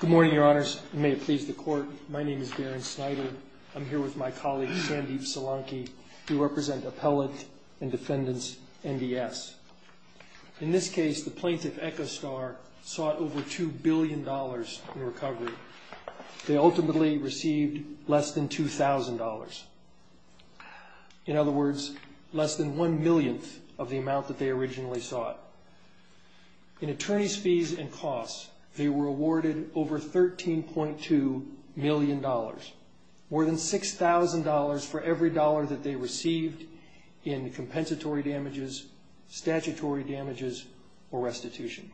Good morning, your honors. May it please the court. My name is Darren Snyder. I'm here with my colleague, Sandeep Solanki. We represent Appellate and Defendants NDS. In this case, the plaintiff, Echostar, sought over $2 billion in recovery. They ultimately received less than $2,000. In other words, less than one millionth of the amount that they originally sought. In attorneys' fees and costs, they were awarded over $13.2 million, more than $6,000 for every dollar that they received in compensatory damages, statutory damages, or restitution.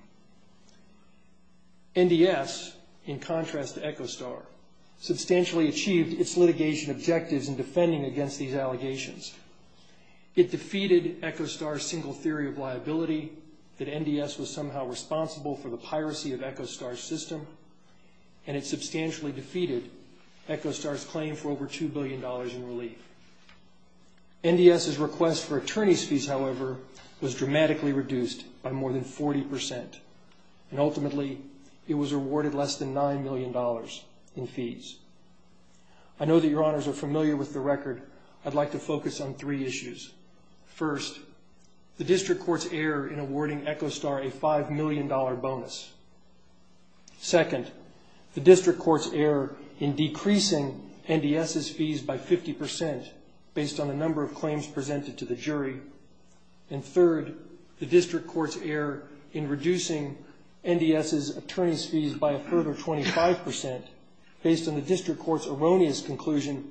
NDS, in contrast to Echostar, substantially achieved its litigation objectives in defending against these allegations. It defeated Echostar's single theory of liability, that NDS was somehow responsible for the piracy of Echostar's system, and it substantially defeated Echostar's claim for over $2 billion in relief. NDS's request for attorneys' fees, however, was dramatically reduced by more than 40%, and ultimately, it was awarded less than $9 million in fees. I know that your honors are familiar with the record. I'd like to focus on three issues. First, the district court's error in awarding Echostar a $5 million bonus. Second, the district court's error in decreasing NDS's fees by 50% based on the number of claims presented to the jury. And third, the district court's error in reducing NDS's attorneys' fees by a third or 25% based on the district court's erroneous conclusion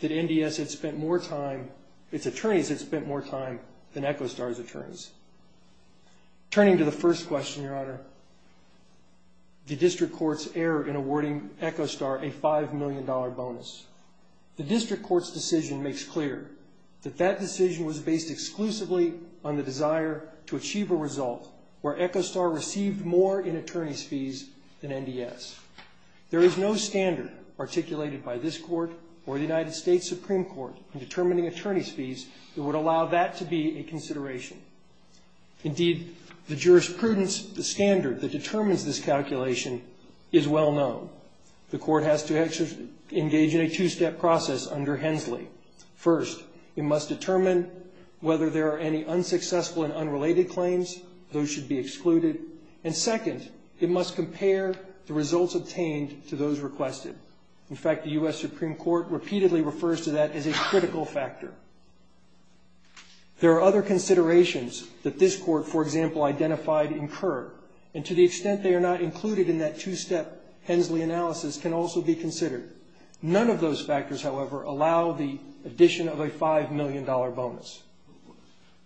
that NDS had spent more time, its attorneys had spent more time than Echostar's attorneys. Turning to the first question, your honor, the district court's error in awarding Echostar a $5 million bonus. The district court's decision makes clear that that decision was based exclusively on the desire to achieve a result where Echostar received more in attorneys' fees than NDS. There is no standard articulated by this court or the United States Supreme Court in determining attorneys' fees that would allow that to be a consideration. Indeed, the jurisprudence, the standard that determines this calculation is well known. The court has to engage in a two-step process under Hensley. First, it must determine whether there are any unsuccessful and unrelated claims. Those should be excluded. And second, it must compare the results obtained to those requested. In fact, the U.S. Supreme Court repeatedly refers to that as a critical factor. There are other considerations that this court, for example, identified incur, and to the extent they are not included in that two-step Hensley analysis can also be considered. None of those factors, however, allow the addition of a $5 million bonus.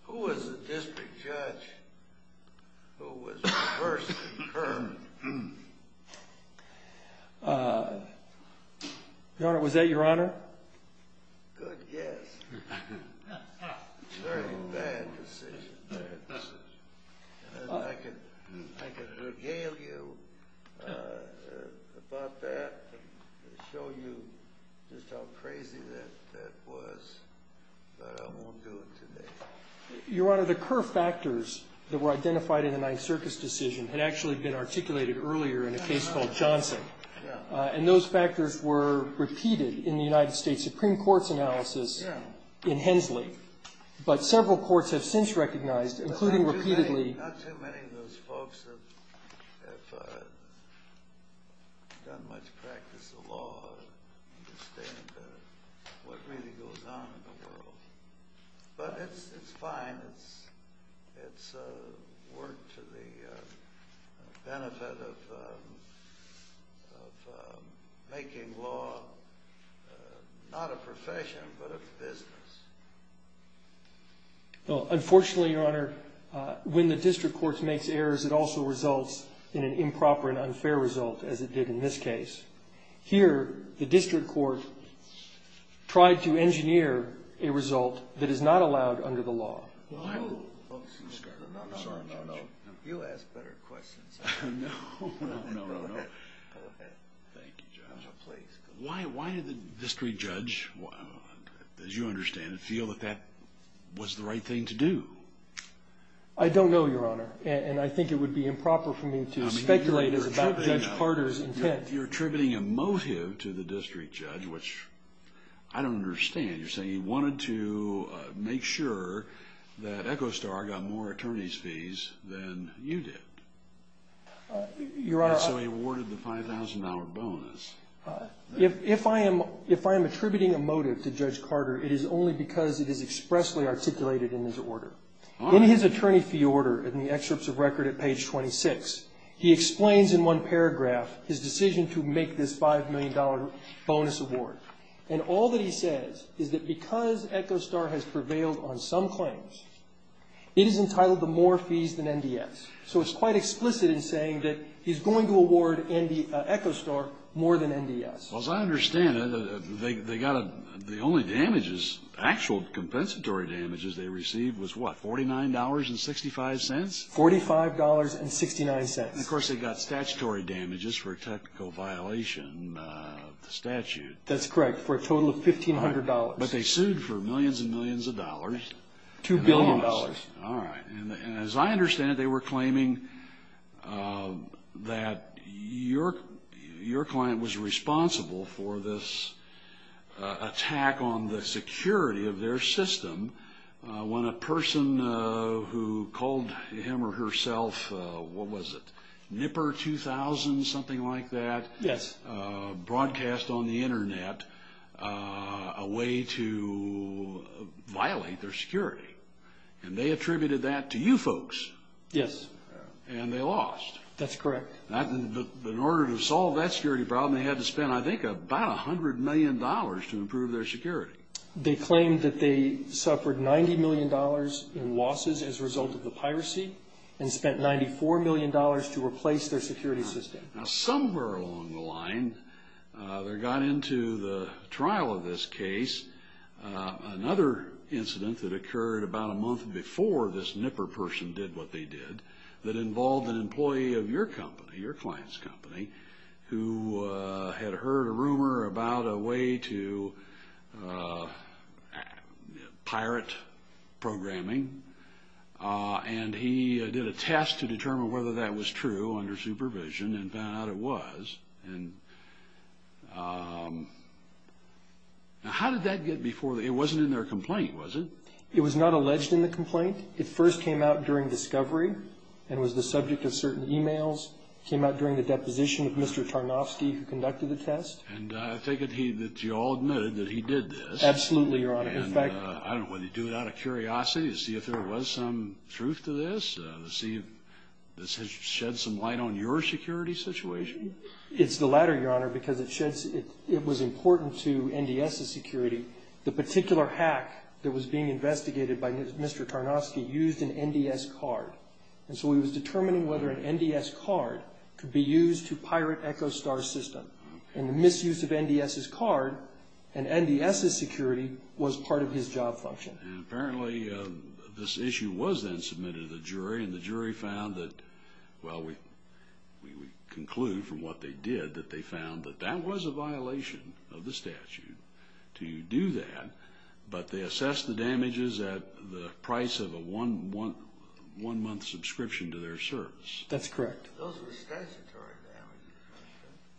Who was the district judge who was the first to determine? Your Honor, was that your Honor? Good guess. It's a very bad decision. I could regale you about that and show you just how crazy that was, but I won't do it today. Your Honor, the core factors that were identified in the Ninth Circus decision had actually been articulated earlier in a case called Johnson. And those factors were repeated in the United States Supreme Court's analysis in Hensley. But several courts have since recognized, including repeatedly... Not too many of those folks have done much practice of law and understand what really goes on in the world. But it's fine. It's work to the benefit of making law not a profession, but a business. Unfortunately, Your Honor, when the district court makes errors, it also results in an improper and unfair result, as it did in this case. Here, the district court tried to engineer a result that is not allowed under the law. No, no, no. You ask better questions. Why did the district judge, as you understand it, feel that that was the right thing to do? I don't know, Your Honor, and I think it would be improper for me to speculate about Judge Carter's intent. You're attributing a motive to the district judge, which I don't understand. You're saying he wanted to make sure that Echo Star got more attorney's fees than you did. And so he awarded the $5,000 bonus. If I am attributing a motive to Judge Carter, it is only because it is expressly articulated in his order. In his attorney fee order, in the excerpts of record at page 26, he explains in one paragraph his decision to make this $5 million bonus award. And all that he says is that because Echo Star has prevailed on some claims, it is entitled to more fees than NDS. So it's quite explicit in saying that he's going to award Echo Star more than NDS. Well, as I understand it, they got a the only damages, actual compensatory damages they received was what, $49.65? $45.69. And, of course, they got statutory damages for a technical violation of the statute. That's correct, for a total of $1,500. But they sued for millions and millions of dollars. $2 billion. All right. And as I understand it, they were claiming that your client was responsible for this attack on the security of their system when a person who called him or herself, what was it, Nipper 2000, something like that? Yes. Broadcast on the Internet a way to violate their security. And they attributed that to you folks. Yes. And they lost. That's correct. In order to solve that security problem, they had to spend, I think, about $100 million to improve their security. They claimed that they suffered $90 million in losses as a result of the piracy and spent $94 million to replace their security system. Now, somewhere along the line, they got into the trial of this case, another incident that occurred about a month before this Nipper person did what they did that involved an employee of your company, your client's company, who had heard a rumor about a way to pirate programming. And he did a test to determine whether that was true under supervision and found out it was. And how did that get before? It wasn't in their complaint, was it? It was not alleged in the complaint. It first came out during discovery and was the subject of certain e-mails. It came out during the deposition of Mr. Tarnovsky, who conducted the test. And I think that you all admitted that he did this. Absolutely, Your Honor. And I don't know whether you do it out of curiosity to see if there was some truth to this, to see if this has shed some light on your security situation. It's the latter, Your Honor, because it was important to NDS's security. The particular hack that was being investigated by Mr. Tarnovsky used an NDS card. And so he was determining whether an NDS card could be used to pirate EchoStar's system. And the misuse of NDS's card and NDS's security was part of his job function. And apparently this issue was then submitted to the jury, and the jury found that, well, we conclude from what they did that they found that that was a violation of the statute to do that, but they assessed the damages at the price of a one-month subscription to their service. That's correct. Those were statutory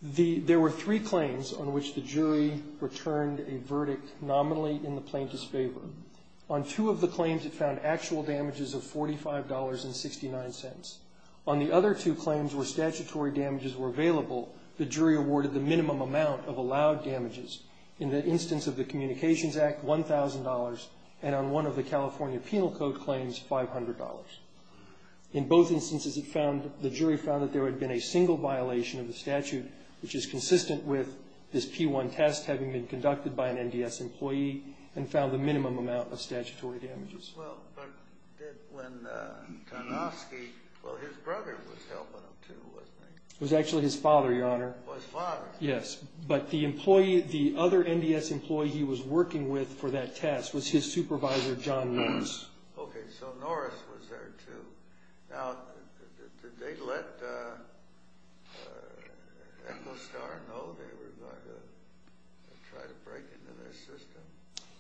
damages. There were three claims on which the jury returned a verdict nominally in the plaintiff's favor. On two of the claims, it found actual damages of $45.69. On the other two claims where statutory damages were available, the jury awarded the minimum amount of allowed damages. In the instance of the Communications Act, $1,000, and on one of the California Penal Code claims, $500. In both instances, the jury found that there had been a single violation of the statute, which is consistent with this P-1 test having been conducted by an NDS employee and found the minimum amount of statutory damages. It was actually his father, Your Honor. His father? Yes. But the other NDS employee he was working with for that test was his supervisor, John Norris. Okay. So Norris was there, too. Now, did they let Echostar know they were going to try to break into their system?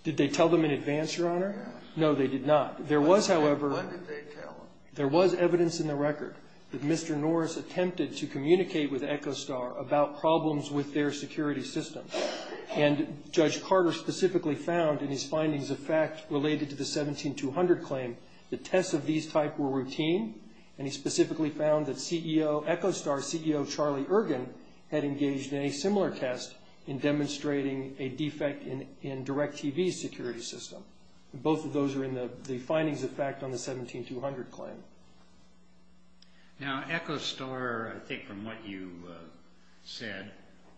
Did they tell them in advance, Your Honor? Yes. No, they did not. When did they tell them? There was evidence in the record that Mr. Norris attempted to communicate with Echostar about problems with their security system, and Judge Carter specifically found in his findings of fact related to the 17-200 claim that tests of these type were routine, and he specifically found that Echostar's CEO, Charlie Ergin, had engaged in a similar test in demonstrating a defect in DirecTV's security system. Both of those are in the findings of fact on the 17-200 claim. Now, Echostar, I think from what you said,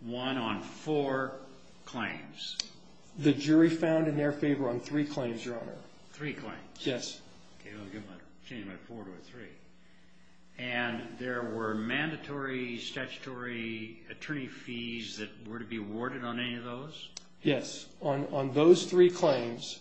won on four claims. The jury found in their favor on three claims, Your Honor. Three claims? Yes. Okay. I'll change my four to a three. And there were mandatory statutory attorney fees that were to be awarded on any of those? Yes. On those three claims,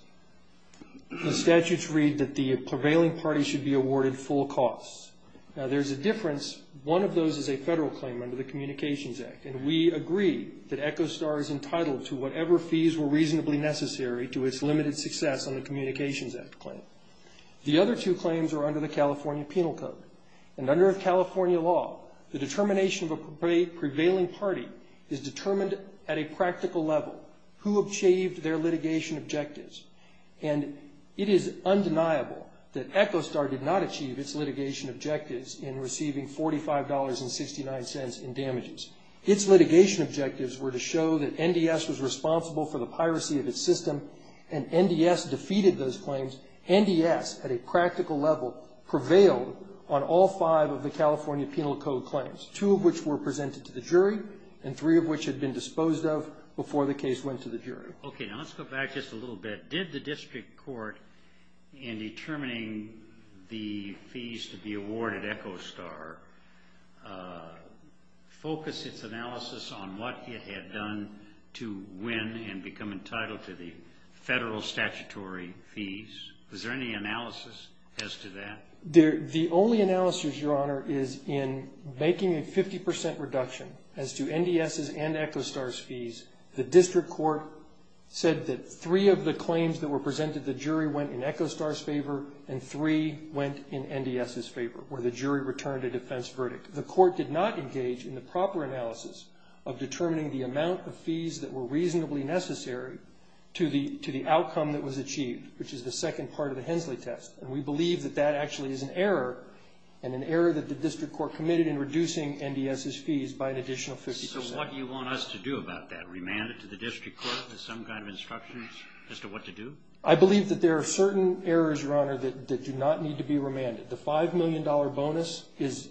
the statutes read that the prevailing party should be awarded full costs. Now, there's a difference. One of those is a federal claim under the Communications Act, and we agree that Echostar is entitled to whatever fees were reasonably necessary to its limited success on the Communications Act claim. The other two claims are under the California Penal Code. And under California law, the determination of a prevailing party is determined at a practical level. Who achieved their litigation objectives? And it is undeniable that Echostar did not achieve its litigation objectives in receiving $45.69 in damages. Its litigation objectives were to show that NDS was responsible for the piracy of its system, and NDS defeated those claims. NDS, at a practical level, prevailed on all five of the California Penal Code claims, two of which were presented to the jury, and three of which had been disposed of before the case went to the jury. Okay. Now, let's go back just a little bit. Did the district court, in determining the fees to be awarded Echostar, focus its analysis on what it had done to win and become entitled to the federal statutory fees? Was there any analysis as to that? The only analysis, Your Honor, is in making a 50% reduction as to NDS's and Echostar's fees. The district court said that three of the claims that were presented to the jury went in Echostar's favor and three went in NDS's favor, where the jury returned a defense verdict. The court did not engage in the proper analysis of determining the amount of fees that were reasonably necessary to the outcome that was achieved, which is the second part of the Hensley test. And we believe that that actually is an error, and an error that the district court committed in reducing NDS's fees by an additional 50%. So what do you want us to do about that? Remand it to the district court with some kind of instructions as to what to do? I believe that there are certain errors, Your Honor, that do not need to be remanded. The $5 million bonus is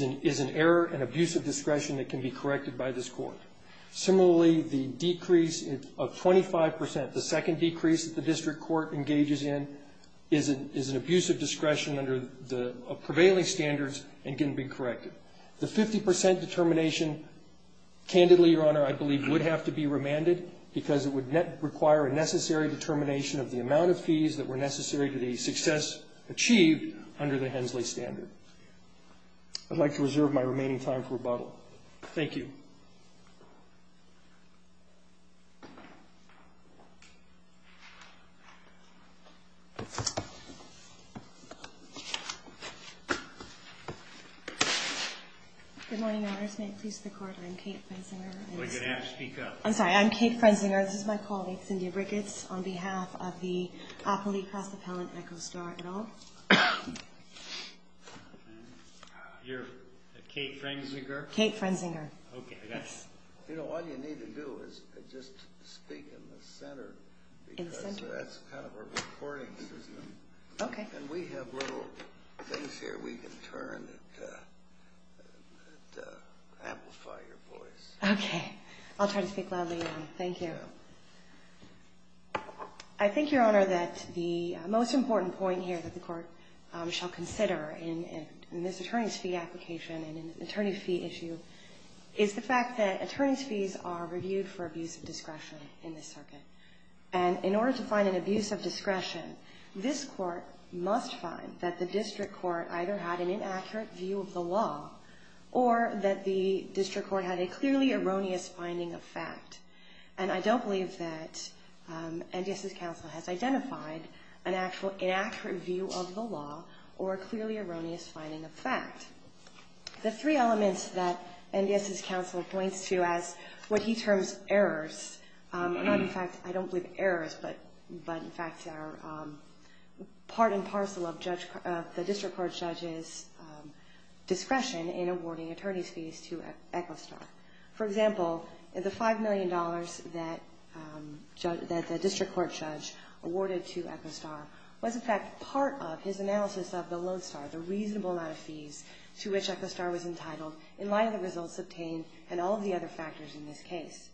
an error and abuse of discretion that can be corrected by this court. Similarly, the decrease of 25%, the second decrease that the district court engages in, is an abuse of discretion under the prevailing standards and can be corrected. The 50% determination, candidly, Your Honor, I believe would have to be remanded because it would require a necessary determination of the amount of fees that were necessary to the success achieved under the Hensley standard. I'd like to reserve my remaining time for rebuttal. Thank you. Thank you. Good morning, Your Honors. May it please the Court, I'm Kate Frensinger. You're going to have to speak up. I'm sorry. I'm Kate Frensinger. This is my colleague, Cindy Ricketts, on behalf of the Appley Cross-Appellant Echo Store et al. You're Kate Frensinger? Kate Frensinger. Okay. You know, all you need to do is just speak in the center. In the center? That's kind of a recording system. Okay. And we have little things here we can turn that amplify your voice. Okay. I'll try to speak loudly. Thank you. I think, Your Honor, that the most important point here that the Court shall consider in this attorney's fee application and an attorney fee issue is the fact that attorney's fees are reviewed for abuse of discretion in this circuit. And in order to find an abuse of discretion, this Court must find that the district court either had an inaccurate view of the law or that the district court had a clearly erroneous finding of fact. And I don't believe that NDS's counsel has identified an actual inaccurate view of the law or a clearly erroneous finding of fact. The three elements that NDS's counsel points to as what he terms errors, not in fact I don't believe errors, but in fact are part and parcel of the district court judge's discretion in awarding attorney's fees to Echo Star. For example, the $5 million that the district court judge awarded to Echo Star was in fact part of his analysis of the Lodestar, the reasonable amount of fees to which Echo Star was entitled in light of the results obtained and all of the other factors in this case.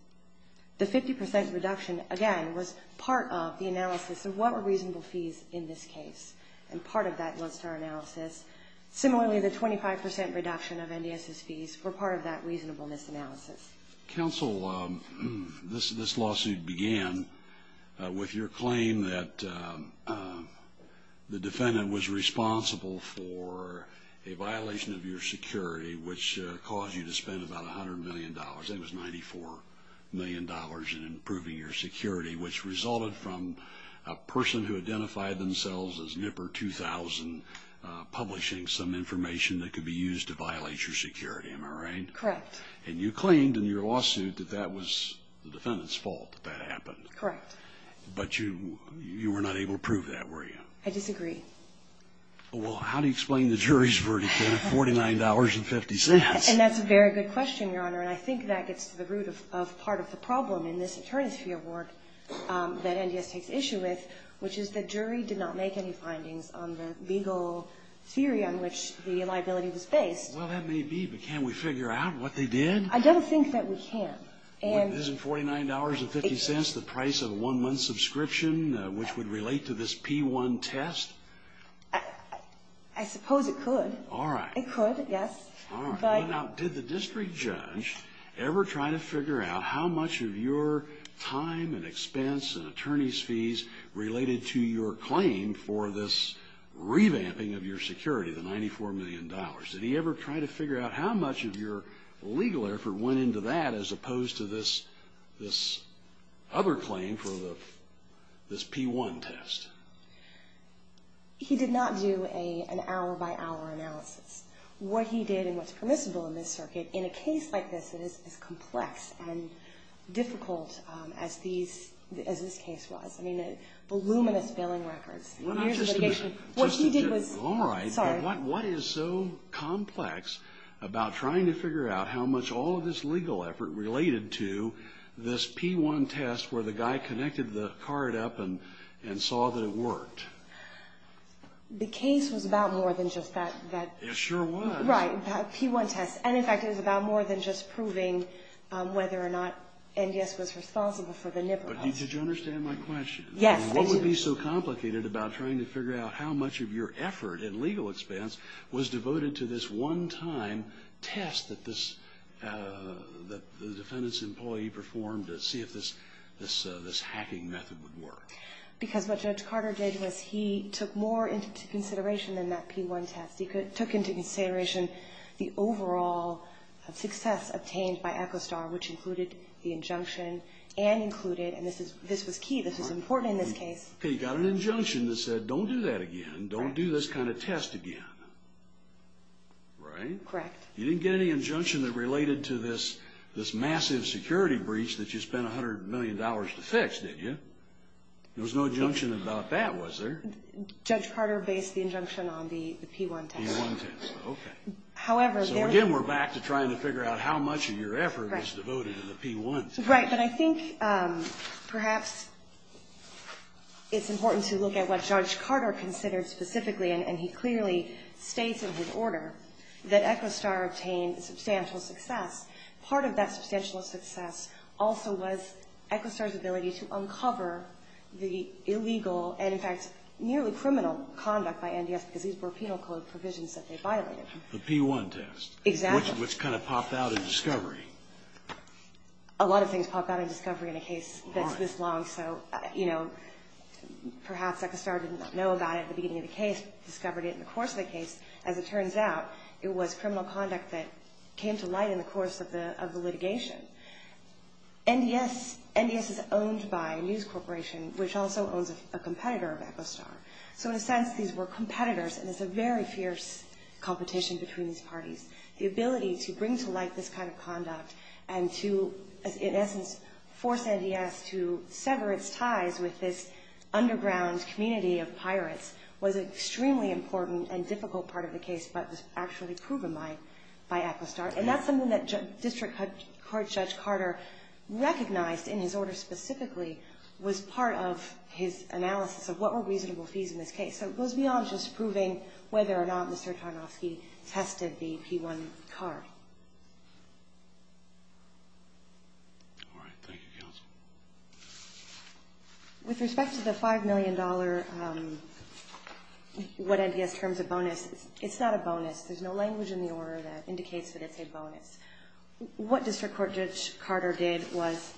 The 50% reduction, again, was part of the analysis of what were reasonable fees in this case and part of that Lodestar analysis. Similarly, the 25% reduction of NDS's fees were part of that reasonableness analysis. Counsel, this lawsuit began with your claim that the defendant was responsible for a violation of your security which caused you to spend about $100 million. That was $94 million in improving your security, which resulted from a person who identified themselves as Nipper 2000 publishing some information that could be used to violate your security. Am I right? Correct. And you claimed in your lawsuit that that was the defendant's fault that that happened. Correct. But you were not able to prove that, were you? I disagree. Well, how do you explain the jury's verdict then of $49.50? And that's a very good question, Your Honor, and I think that gets to the root of part of the problem in this attorney's fee award that NDS takes issue with, which is the jury did not make any findings on the legal theory on which the liability was based. Well, that may be, but can we figure out what they did? I don't think that we can. Wasn't $49.50 the price of a one-month subscription which would relate to this P-1 test? I suppose it could. All right. It could, yes. All right. Now, did the district judge ever try to figure out how much of your time and expense and attorney's fees related to your claim for this revamping of your security, the $94 million? Did he ever try to figure out how much of your legal effort went into that as opposed to this other claim for this P-1 test? He did not do an hour-by-hour analysis. What he did and what's permissible in this circuit, in a case like this, it is as complex and difficult as this case was. I mean, voluminous bailing records, years of litigation. All right. What is so complex about trying to figure out how much all of this legal effort related to this P-1 test where the guy connected the card up and saw that it worked? The case was about more than just that. It sure was. Right, that P-1 test. And, in fact, it was about more than just proving whether or not NDS was responsible for the NIPRO test. But did you understand my question? Yes, I did. What would be so complicated about trying to figure out how much of your effort in legal expense was devoted to this one-time test that the defendant's employee performed to see if this hacking method would work? Because what Judge Carter did was he took more into consideration than that P-1 test. He took into consideration the overall success obtained by Echostar, which included the injunction and included, and this was key, this was important in this case. He got an injunction that said, don't do that again, don't do this kind of test again. Right? Correct. You didn't get any injunction that related to this massive security breach that you spent $100 million to fix, did you? There was no injunction about that, was there? Judge Carter based the injunction on the P-1 test. P-1 test, okay. However, there was... So, again, we're back to trying to figure out how much of your effort was devoted to the P-1 test. Right. But I think perhaps it's important to look at what Judge Carter considered specifically, and he clearly states in his order that Echostar obtained substantial success. Part of that substantial success also was Echostar's ability to uncover the illegal and, in fact, nearly criminal conduct by NDS because these were penal code provisions that they violated. The P-1 test. Exactly. Which kind of popped out in discovery. A lot of things pop out in discovery in a case that's this long. So, you know, perhaps Echostar didn't know about it at the beginning of the case, discovered it in the course of the case. As it turns out, it was criminal conduct that came to light in the course of the litigation. NDS is owned by a news corporation, which also owns a competitor of Echostar. So, in a sense, these were competitors, and it's a very fierce competition between these parties. The ability to bring to light this kind of conduct and to, in essence, force NDS to sever its ties with this underground community of pirates was an extremely important and difficult part of the case, but was actually proven by Echostar. And that's something that District Court Judge Carter recognized in his order specifically was part of his analysis of what were reasonable fees in this case. So it goes beyond just proving whether or not Mr. Tarnofsky tested the P1 card. All right. Thank you, Counsel. With respect to the $5 million what NDS terms a bonus, it's not a bonus. There's no language in the order that indicates that it's a bonus. What District Court Judge Carter did was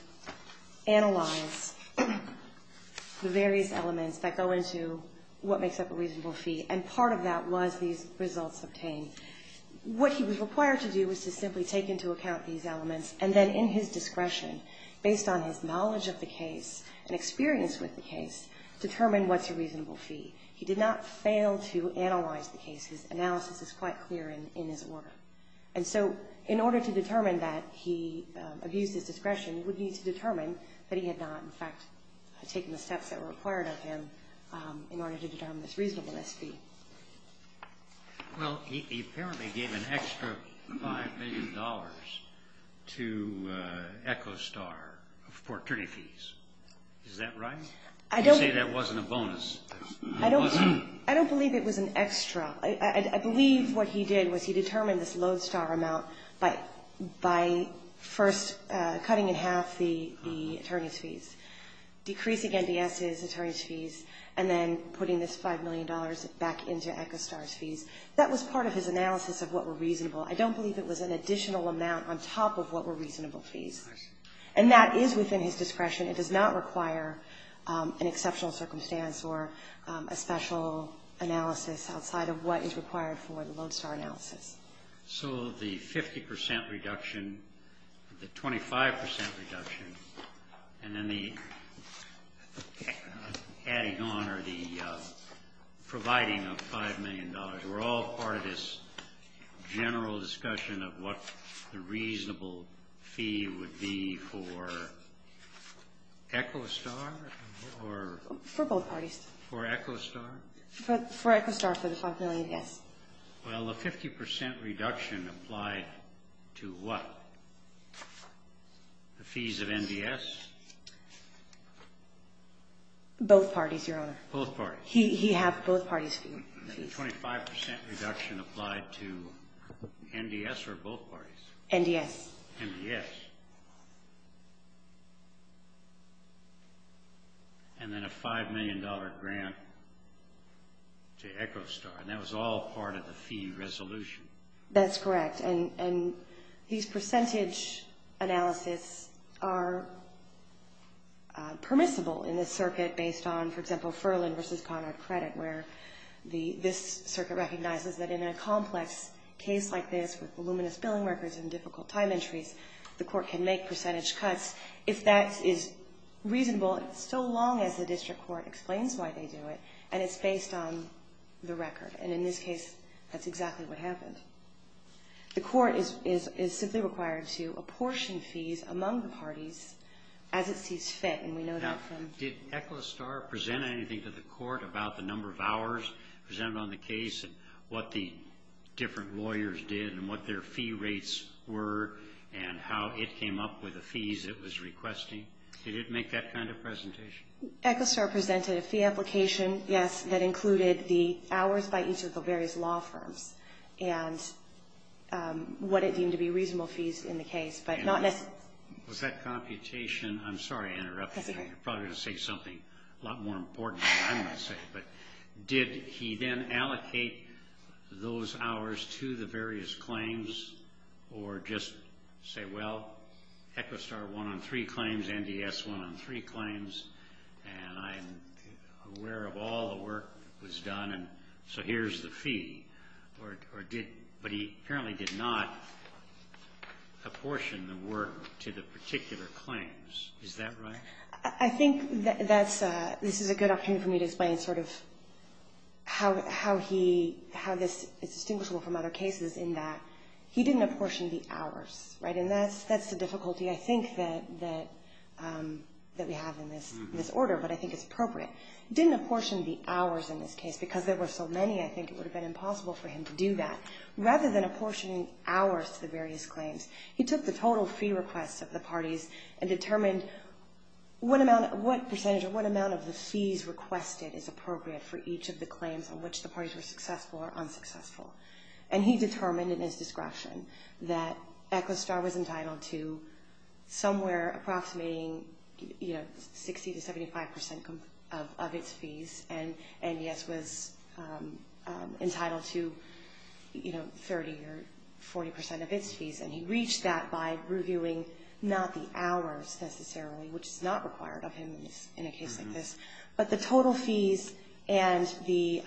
analyze the various elements that go into what makes up a reasonable fee, and part of that was these results obtained. What he was required to do was to simply take into account these elements and then, in his discretion, based on his knowledge of the case and experience with the case, determine what's a reasonable fee. He did not fail to analyze the case. His analysis is quite clear in his order. And so in order to determine that he abused his discretion, he would need to determine that he had not, in fact, taken the steps that were required of him in order to determine this reasonable SP. Well, he apparently gave an extra $5 million to Echostar for attorney fees. Is that right? I don't... You say that wasn't a bonus. I don't believe it was an extra. I believe what he did was he determined this Lodestar amount by first cutting in half the attorney's fees, decreasing NDS's attorney's fees, and then putting this $5 million back into Echostar's fees. That was part of his analysis of what were reasonable. I don't believe it was an additional amount on top of what were reasonable fees. And that is within his discretion. It does not require an exceptional circumstance or a special analysis outside of what is required for the Lodestar analysis. So the 50 percent reduction, the 25 percent reduction, and then the adding on or the providing of $5 million were all part of this general discussion of what the reasonable fee would be for Echostar or... For both parties. For Echostar? For Echostar, for the $5 million, yes. Well, the 50 percent reduction applied to what? The fees of NDS? Both parties, Your Honor. Both parties. He had both parties' fees. The 25 percent reduction applied to NDS or both parties? NDS. NDS. And then a $5 million grant to Echostar. And that was all part of the fee resolution. That's correct. And these percentage analyses are permissible in this circuit based on, for example, this circuit recognizes that in a complex case like this with voluminous billing records and difficult time entries, the court can make percentage cuts if that is reasonable so long as the district court explains why they do it and it's based on the record. And in this case, that's exactly what happened. The court is simply required to apportion fees among the parties as it sees fit, and we know that from... presented on the case and what the different lawyers did and what their fee rates were and how it came up with the fees it was requesting. Did it make that kind of presentation? Echostar presented a fee application, yes, that included the hours by each of the various law firms and what it deemed to be reasonable fees in the case, but not necessarily. I'm sorry to interrupt. That's okay. I'm probably going to say something a lot more important than I'm going to say, but did he then allocate those hours to the various claims or just say, well, Echostar won on three claims, NDS won on three claims, and I'm aware of all the work that was done and so here's the fee, but he apparently did not apportion the work to the particular claims. Is that right? I think this is a good opportunity for me to explain sort of how this is distinguishable from other cases in that he didn't apportion the hours, right? And that's the difficulty, I think, that we have in this order, but I think it's appropriate. He didn't apportion the hours in this case because there were so many, I think it would have been impossible for him to do that. Rather than apportioning hours to the various claims, he took the total fee requests of the parties and determined what percentage or what amount of the fees requested is appropriate for each of the claims on which the parties were successful or unsuccessful, and he determined in his discretion that Echostar was entitled to somewhere approximating 60% to 75% of its fees and NDS was entitled to 30% or 40% of its fees, and he reached that by reviewing not the hours necessarily, which is not required of him in a case like this, but the total fees and the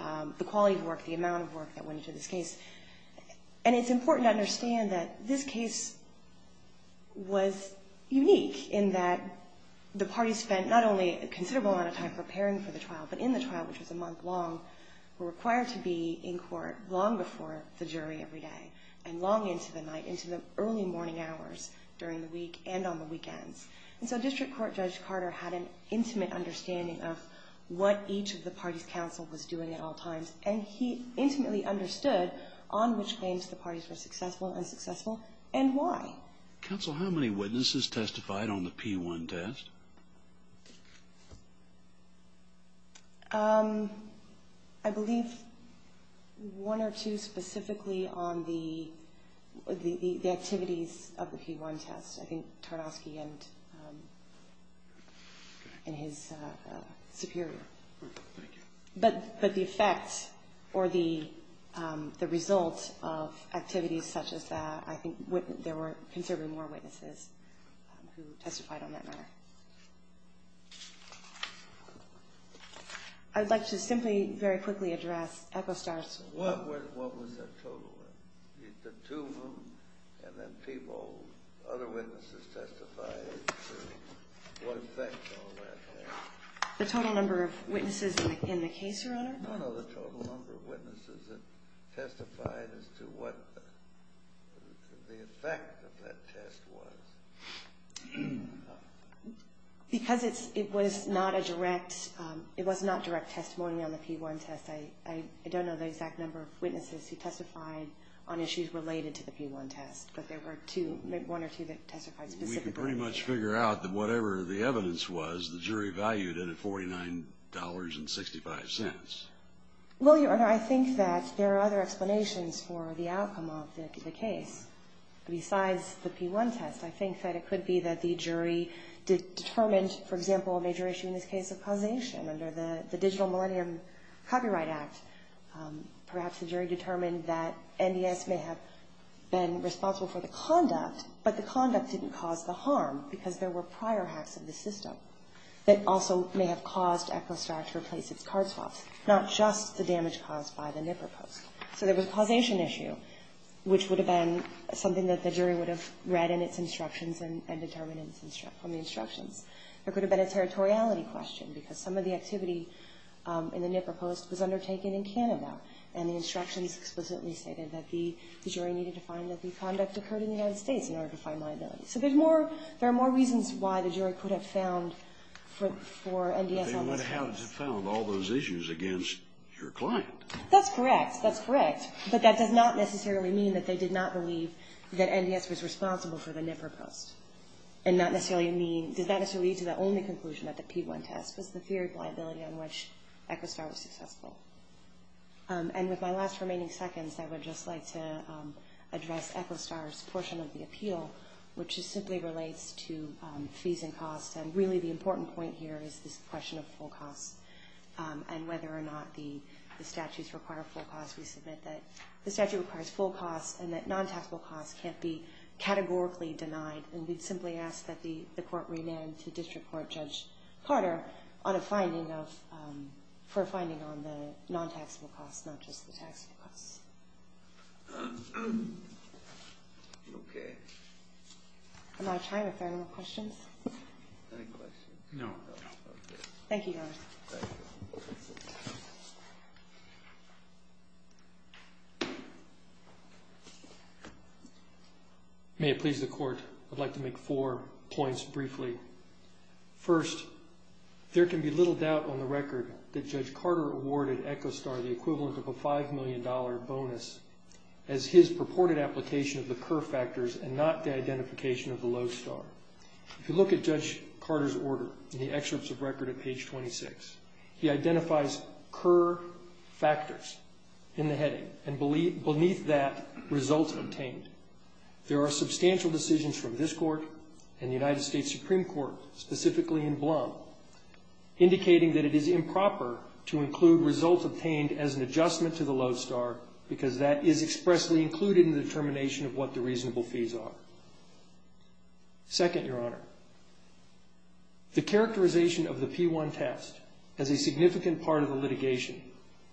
quality of work, the amount of work that went into this case. And it's important to understand that this case was unique in that the parties spent not only a considerable amount of time preparing for the trial, but in the trial, which was a month long, were required to be in court long before the jury every day and long into the night, into the early morning hours during the week and on the weekends. And so District Court Judge Carter had an intimate understanding of what each of the parties' counsel was doing at all times, and he intimately understood on which claims the parties were successful and unsuccessful and why. Counsel, how many witnesses testified on the P1 test? I believe one or two specifically on the activities of the P1 test. I think Tardosky and his superior. Thank you. But the effect or the result of activities such as that, I think there were considerably more witnesses who testified on that matter. I would like to simply very quickly address Epostar's question. What was the total? The two of them and then people, other witnesses testified to what effect all that had? The total number of witnesses in the case, Your Honor? No, no, the total number of witnesses that testified as to what the effect of that test was. Because it was not a direct testimony on the P1 test, I don't know the exact number of witnesses who testified on issues related to the P1 test, but there were one or two that testified specifically. We can pretty much figure out that whatever the evidence was, the jury valued it at $49.65. Well, Your Honor, I think that there are other explanations for the outcome of the case. Besides the P1 test, I think that it could be that the jury determined, for example, a major issue in this case of causation under the Digital Millennium Copyright Act. Perhaps the jury determined that NDS may have been responsible for the conduct, but the conduct didn't cause the harm because there were prior acts of the system that also may have caused Epostar to replace its card swaps, not just the damage caused by the Nipper Post. So there was a causation issue, which would have been something that the jury would have read in its instructions and determined from the instructions. There could have been a territoriality question because some of the activity in the Nipper Post was undertaken in Canada, and the instructions explicitly stated that the jury needed to find that the conduct occurred in the United States in order to find liability. So there are more reasons why the jury could have found for NDS on this case. But they would have found all those issues against your client. That's correct. That's correct. But that does not necessarily mean that they did not believe that NDS was responsible for the Nipper Post. And that does not necessarily lead to the only conclusion that the P1 test was the theory of liability on which Epostar was successful. And with my last remaining seconds, I would just like to address Epostar's portion of the appeal, which simply relates to fees and costs, and really the important point here is this question of full costs and whether or not the statutes require full costs. We submit that the statute requires full costs and that non-taxable costs can't be categorically denied. And we'd simply ask that the court remand to District Court Judge Carter for a finding on the non-taxable costs, not just the taxable costs. Okay. Am I out of time? Are there any more questions? Any questions? No. Thank you, Your Honor. May it please the Court, I'd like to make four points briefly. First, there can be little doubt on the record that Judge Carter awarded Epostar the equivalent of a $5 million bonus as his purported application of the Kerr factors and not the identification of the Lowe star. If you look at Judge Carter's order in the excerpts of record at page 26, he identifies Kerr factors in the heading and beneath that, results obtained. There are substantial decisions from this Court and the United States Supreme Court, specifically in Blum, indicating that it is improper to include results obtained as an adjustment to the Lowe star because that is expressly included in the determination of what the reasonable fees are. Second, Your Honor, the characterization of the P-1 test as a significant part of the litigation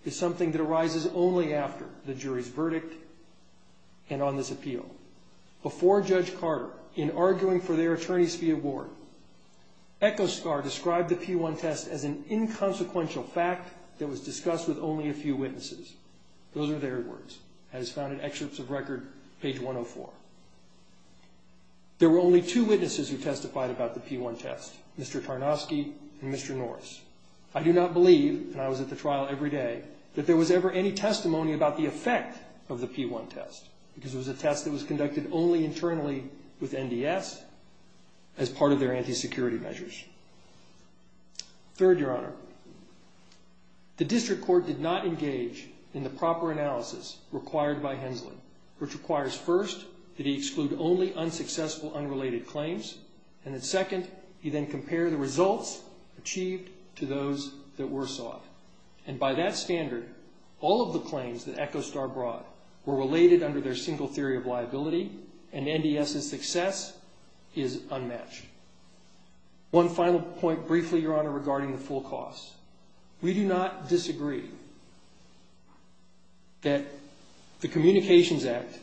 is something that arises only after the jury's verdict and on this appeal. Before Judge Carter, in arguing for their attorney's fee award, Epostar described the P-1 test as an inconsequential fact that was discussed with only a few witnesses. Those are their words, as found in excerpts of record, page 104. There were only two witnesses who testified about the P-1 test, Mr. Tarnoski and Mr. Norris. I do not believe, and I was at the trial every day, that there was ever any testimony about the effect of the P-1 test because it was a test that was conducted only internally with NDS as part of their anti-security measures. Third, Your Honor, the district court did not engage in the proper analysis required by Hensley, which requires, first, that he exclude only unsuccessful unrelated claims and that, second, he then compare the results achieved to those that were sought. And by that standard, all of the claims that Epostar brought were related under their single theory of liability and NDS's success is unmatched. One final point briefly, Your Honor, regarding the full costs. We do not disagree that the Communications Act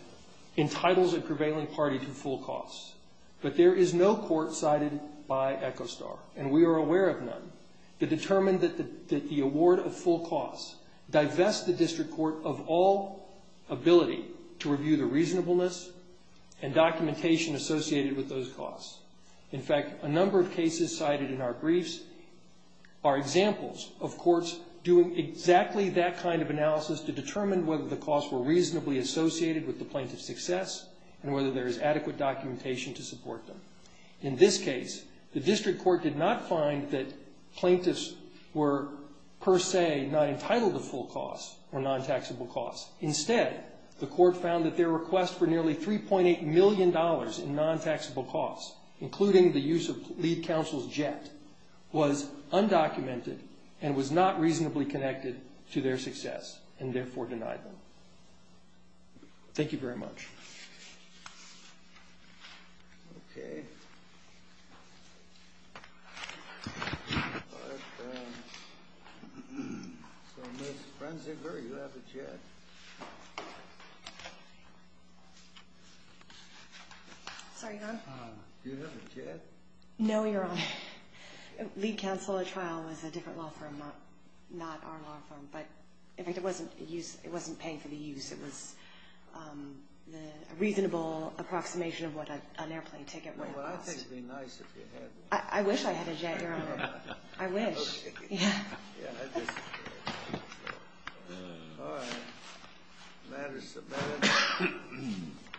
entitles a prevailing party to full costs, but there is no court cited by Epostar, and we are aware of none, that determined that the award of full costs divests the district court of all ability to review the reasonableness and documentation associated with those costs. In fact, a number of cases cited in our briefs are examples of courts doing exactly that kind of analysis to determine whether the costs were reasonably associated with the plaintiff's success and whether there is adequate documentation to support them. In this case, the district court did not find that plaintiffs were per se not entitled to full costs or non-taxable costs. Instead, the court found that their request for nearly $3.8 million in non-taxable costs, including the use of Lead Counsel's jet, was undocumented and was not reasonably connected to their success and therefore denied them. Thank you very much. Okay. So, Ms. Frenziger, you have the chair. Sorry, Your Honor. Do you have a jet? No, Your Honor. Lead Counsel at trial was a different law firm, not our law firm. But, in fact, it wasn't paying for the use. It was a reasonable approximation of what an airplane ticket would have cost. Well, I think it would be nice if you had one. I wish I had a jet, Your Honor. I wish. Okay. Yeah. Yeah, I disagree. All right. The matter is submitted.